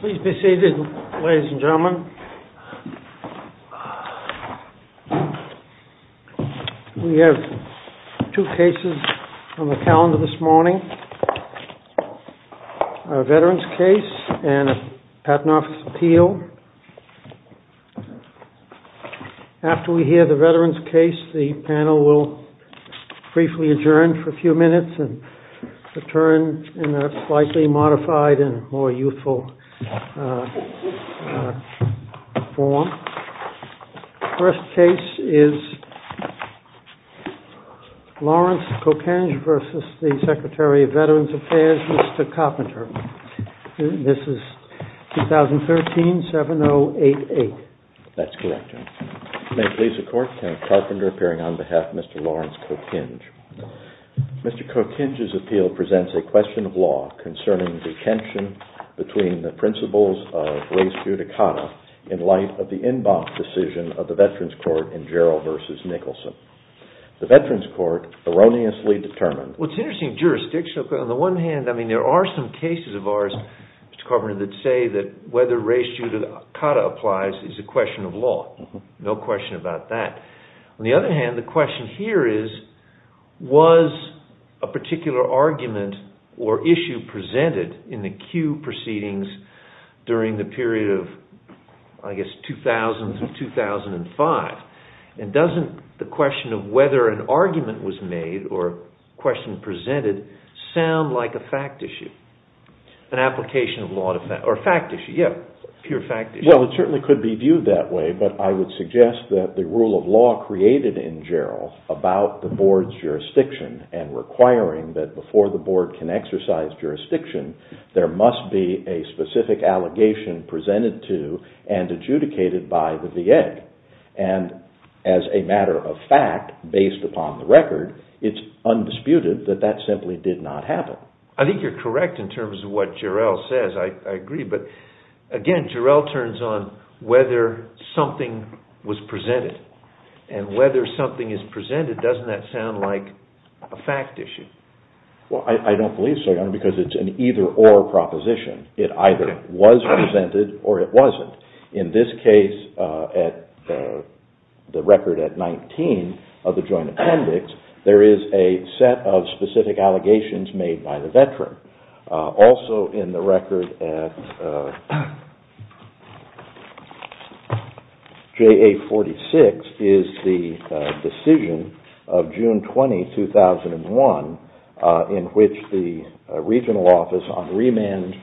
Please be seated, ladies and gentlemen. We have two cases on the calendar this morning, a veterans case and a patent office appeal. After we hear the veterans case, the panel will briefly adjourn for a few minutes and return in a slightly modified and more youthful form. The first case is Lawrence Cokinge versus the Secretary of Veterans Affairs, Mr. Carpenter. This is 2013-7088. That's correct. May it please the court, Mr. Carpenter, appearing on behalf of Mr. Lawrence Cokinge. Mr. Cokinge's appeal presents a question of law concerning the tension between the principles of res judicata in light of the Inbox decision of the Veterans Court in Jarrell versus Nicholson. The Veterans Court erroneously determined... Well, it's interesting jurisdiction. On the one hand, I mean, there are some cases of ours, Mr. Carpenter, that say that whether res judicata applies is a question of law. No question about that. On the other hand, the question here is, was a particular argument or issue presented in the Kew proceedings during the period of, I guess, 2000-2005? And doesn't the question of whether an argument was made or a question presented sound like a fact issue, an application of law or a fact issue? Yeah, a pure fact issue. It certainly could be viewed that way, but I would suggest that the rule of law created in Jarrell about the board's jurisdiction and requiring that before the board can exercise jurisdiction, there must be a specific allegation presented to and adjudicated by the VA. And as a matter of fact, based upon the record, it's undisputed that that simply did not happen. I think you're correct in terms of what Jarrell says. I agree. But again, Jarrell turns on whether something was presented. And whether something is presented, doesn't that sound like a fact issue? Well, I don't believe so, Your Honor, because it's an either-or proposition. It either was presented or it wasn't. In this case, at the record at 19 of the joint appendix, there is a set of specific allegations made by the veteran. Also in the record at JA 46 is the decision of June 20, 2001, in which the regional office on remand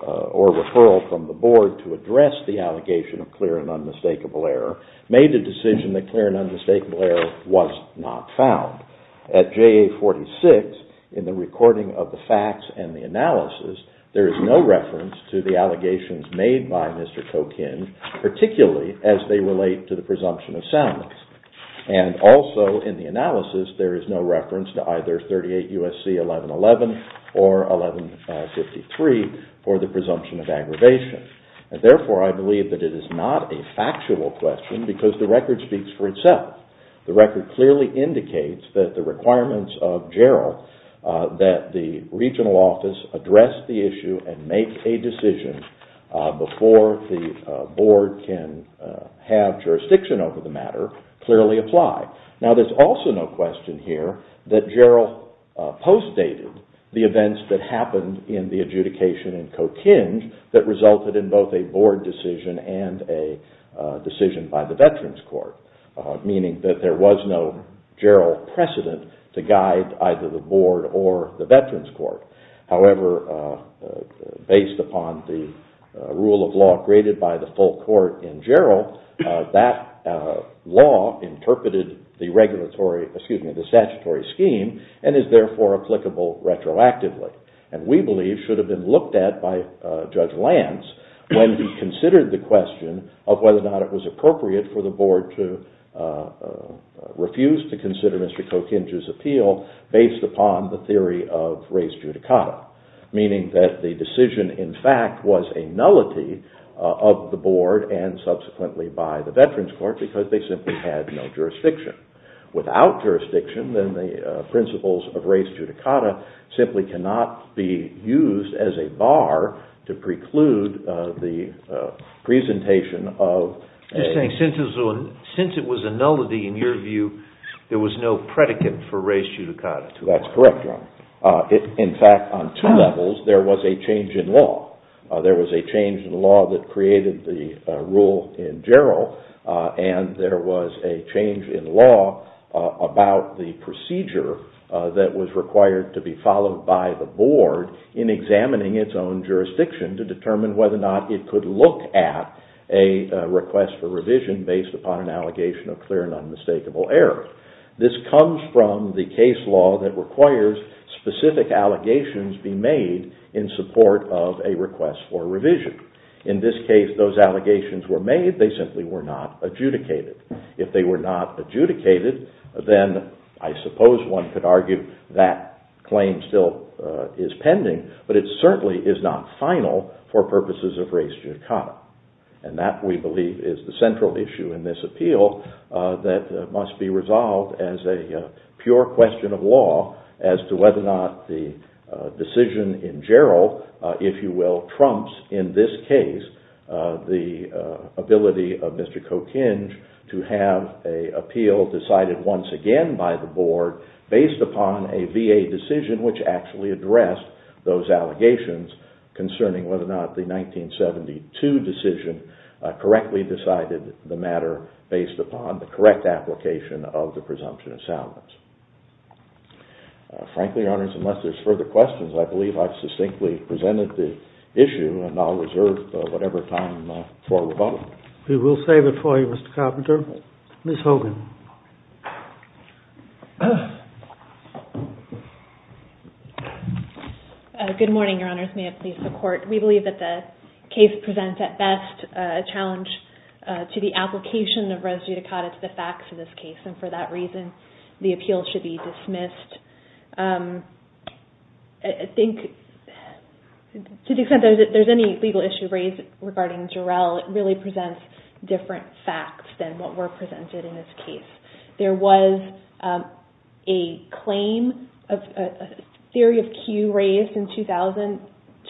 or referral from the board to address the allegation of clear and unmistakable error made a decision that clear and unmistakable error was not found. At JA 46, in the recording of the facts and the analysis, there is no reference to the allegations made by Mr. Tokin, particularly as they relate to the presumption of soundness. And also in the analysis, there is no reference to either 38 U.S.C. 1111 or 1153 for the presumption of aggravation. And therefore, I believe that it is not a factual question because the record speaks for itself. The record clearly indicates that the requirements of Jarrell, that the regional office address the issue and make a decision before the board can have jurisdiction over the matter, clearly apply. Now, there is also no question here that Jarrell postdated the events that happened in the adjudication in Kokin that resulted in both a board decision and a decision by the veterans court, meaning that there was no Jarrell precedent to guide either the board or the veterans court. However, based upon the rule of law created by the full court in Jarrell, that law interpreted the regulatory, excuse me, the statutory scheme and is therefore applicable retroactively. And we believe should have been looked at by Judge Lance when he considered the question of whether or not it was appropriate for the board to refuse to consider Mr. Kokin's appeal based upon the theory of race judicata, meaning that the decision in fact was a nullity of the board and subsequently by the veterans court because they simply had no jurisdiction. Without jurisdiction, then the principles of race judicata simply cannot be used as a bar to preclude the presentation of... There was no predicate for race judicata. That's correct, your honor. In fact, on two levels, there was a change in law. There was a change in law that created the rule in Jarrell and there was a change in law about the procedure that was required to be followed by the board in examining its own jurisdiction to determine whether or not it could look at a request for revision based upon an allegation of clear and unmistakable error. This comes from the case law that requires specific allegations be made in support of a request for revision. In this case, those allegations were made. They simply were not adjudicated. If they were not adjudicated, then I suppose one could argue that claim still is pending, but it certainly is not final for purposes of race judicata. That, we believe, is the central issue in this appeal that must be resolved as a pure question of law as to whether or not the decision in Jarrell, if you will, trumps, in this case, the ability of Mr. Kokinj to have an appeal decided once again by the board based upon a VA decision which actually addressed those allegations concerning whether or not the 1972 decision correctly decided the matter based upon the correct application of the presumption of salvage. Frankly, Your Honors, unless there's further questions, I believe I've succinctly presented the issue and I'll reserve whatever time for rebuttal. We will save it for you, Mr. Carpenter. Ms. Hogan. Good morning, Your Honors. May it please the Court. We believe that the case presents, at best, a challenge to the application of race judicata to the facts of this case, and for that reason, the appeal should be dismissed. I think, to the extent that there's any legal issue raised regarding Jarrell, it really presents different facts than what were presented in this case. There was a claim, a theory of cue raised in 2000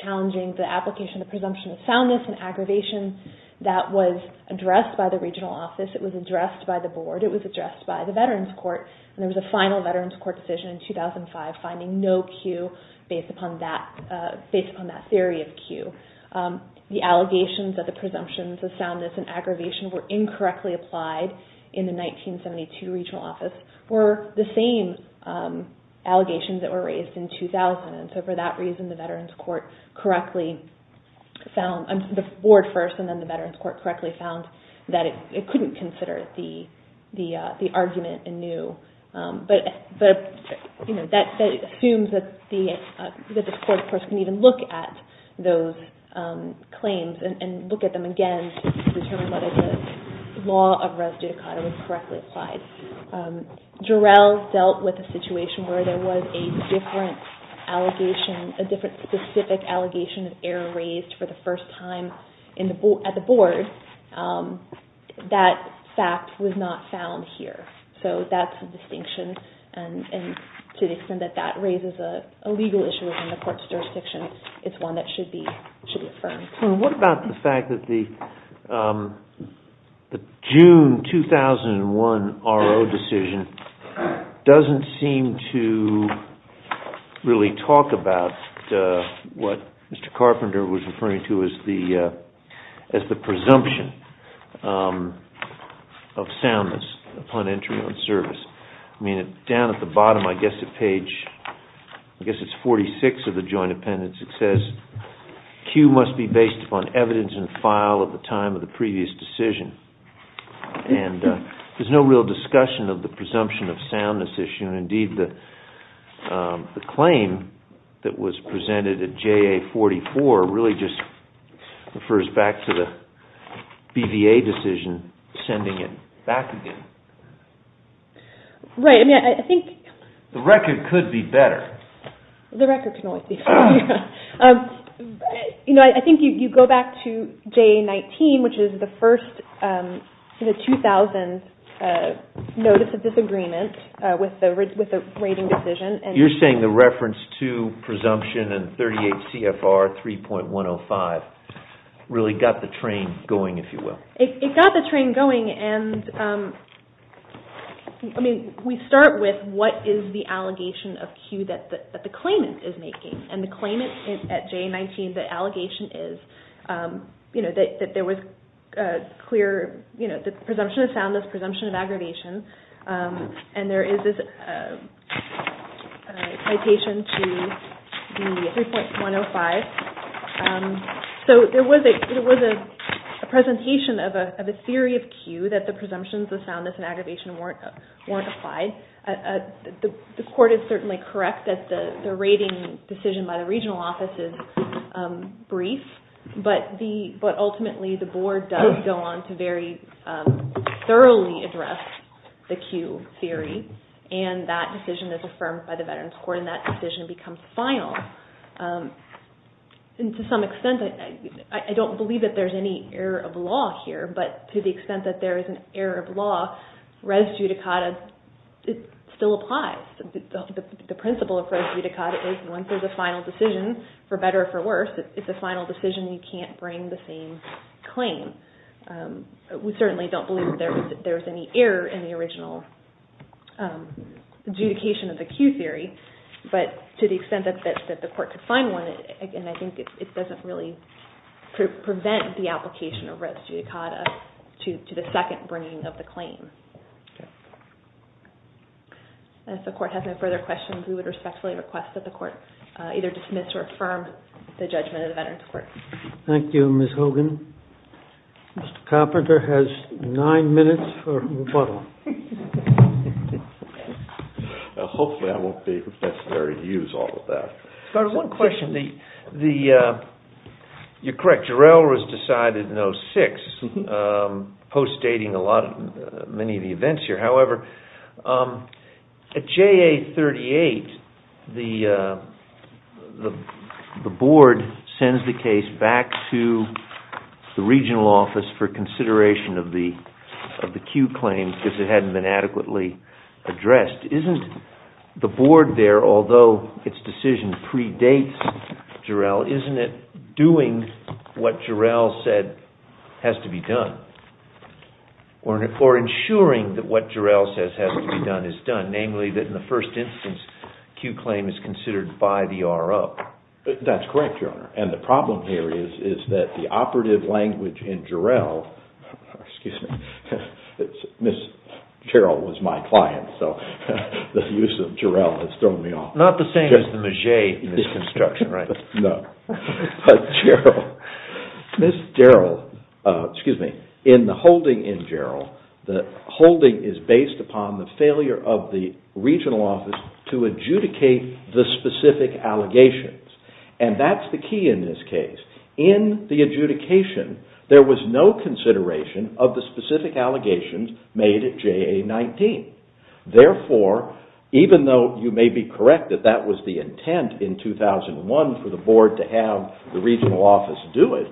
challenging the application of presumption of soundness and aggravation that was addressed by the regional office. It was addressed by the board. It was addressed by the Veterans Court. There was a final Veterans Court decision in 2005 finding no cue based upon that theory of cue. The allegations of the presumptions of soundness and aggravation were incorrectly applied in the 1972 regional office were the same allegations that were raised in 2000. For that reason, the board first and then the Veterans Court correctly found that it couldn't consider the argument anew. That assumes that the Court, of course, can even look at those claims and look at them again to determine whether the law of res judicata was correctly applied. Jarrell dealt with a situation where there was a different specific allegation of error raised for the first time at the board. That fact was not found here, so that's a distinction. To the extent that that raises a legal issue within the Court's jurisdiction, it's one that should be affirmed. What about the fact that the June 2001 RO decision doesn't seem to really talk about what Mr. Carpenter was referring to as the presumption of soundness upon entry on service? Down at the bottom, I guess at page, I guess it's 46 of the joint appendix, it says, Q must be based upon evidence in file at the time of the previous decision. There's no real discussion of the presumption of soundness issue. Indeed, the claim that was presented at JA44 really just refers back to the BVA decision sending it back again. Right. The record could be better. The record can always be better. I think you go back to JA19, which is the first 2000 notice of disagreement with the rating decision. You're saying the reference to presumption in 38 CFR 3.105 really got the train going, if you will. It got the train going. I mean, we start with what is the allegation of Q that the claimant is making? The claimant at JA19, the allegation is that there was clear presumption of soundness, presumption of aggravation, and there is this citation to the 3.105. So there was a presentation of a theory of Q that the presumptions of soundness and aggravation weren't applied. The court is certainly correct that the rating decision by the regional office is brief, but ultimately, the board does go on to very thoroughly address the Q theory, and that decision is affirmed by the Veterans Court, and that decision becomes final. To some extent, I don't believe that there's any error of law here, but to the extent that there is an error of law, res judicata still applies. The principle of res judicata is once there's a final decision, for better or for worse, it's a final decision. You can't bring the same claim. We certainly don't believe that there was any error in the original adjudication of the Q theory. But to the extent that the court could find one, again, I think it doesn't really prevent the application of res judicata to the second bringing of the claim. If the court has no further questions, we would respectfully request that the court either dismiss or affirm the judgment of the Veterans Court. Thank you, Ms. Hogan. Mr. Carpenter has nine minutes for rebuttal. Hopefully, I won't be necessary to use all of that. Scott, one question. You're correct, Jarrell was decided in 06, post-dating many of the events here. However, at JA38, the board sends the case back to the regional office for consideration of the Q claim because it hadn't been adequately addressed. Isn't the board there, although its decision predates Jarrell, isn't it doing what Jarrell said has to be done or ensuring that what Jarrell says has to be done is done, namely that in the first instance, Q claim is considered by the RO? That's correct, Your Honor. The problem here is that the operative language in Jarrell, excuse me, Ms. Jarrell was my client, so the use of Jarrell has thrown me off. Not the same as the Maget misconstruction, right? No. Ms. Jarrell, excuse me, in the holding in Jarrell, the holding is based upon the failure of the regional office to adjudicate the specific allegations and that's the key in this case. In the adjudication, there was no consideration of the specific allegations made at JA19. Therefore, even though you may be correct that that was the intent in 2001 for the board to have the regional office do it,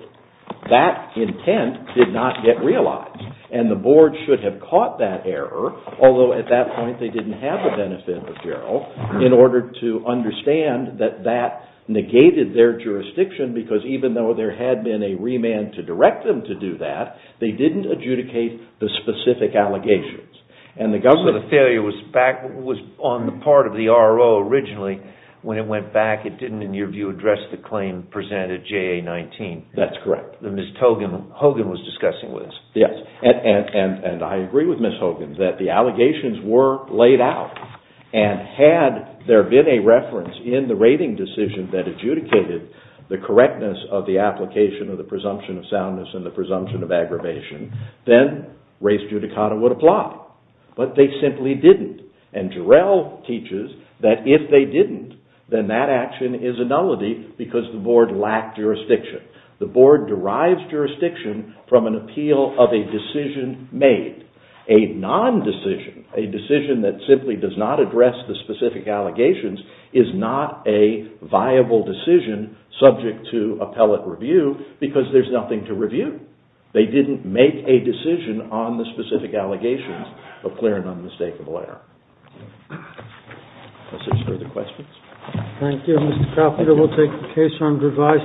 that intent did not get realized and the board should have caught that error, although at that point, they didn't have the benefit of Jarrell in order to understand that that negated their jurisdiction because even though there had been a remand to direct them to do that, they didn't adjudicate the specific allegations. The failure was on the part of the RO originally. When it went back, it didn't, in your view, address the claim presented at JA19. That's correct. Ms. Hogan was discussing with us. Yes, and I agree with Ms. Hogan that the allegations were laid out and had there been a reference in the rating decision that adjudicated the correctness of the application of the presumption of soundness and the presumption of aggravation, then race judicata would apply, but they simply didn't and Jarrell teaches that if they didn't, then that action is a nullity because the board lacked jurisdiction. The board derives jurisdiction from an appeal of a decision made. A non-decision, a decision that simply does not address the specific allegations, is not a viable decision subject to appellate review because there's nothing to review. They didn't make a decision on the specific allegations of clear and unmistakable error. Thank you. Mr. Caput, I will take the case on revised.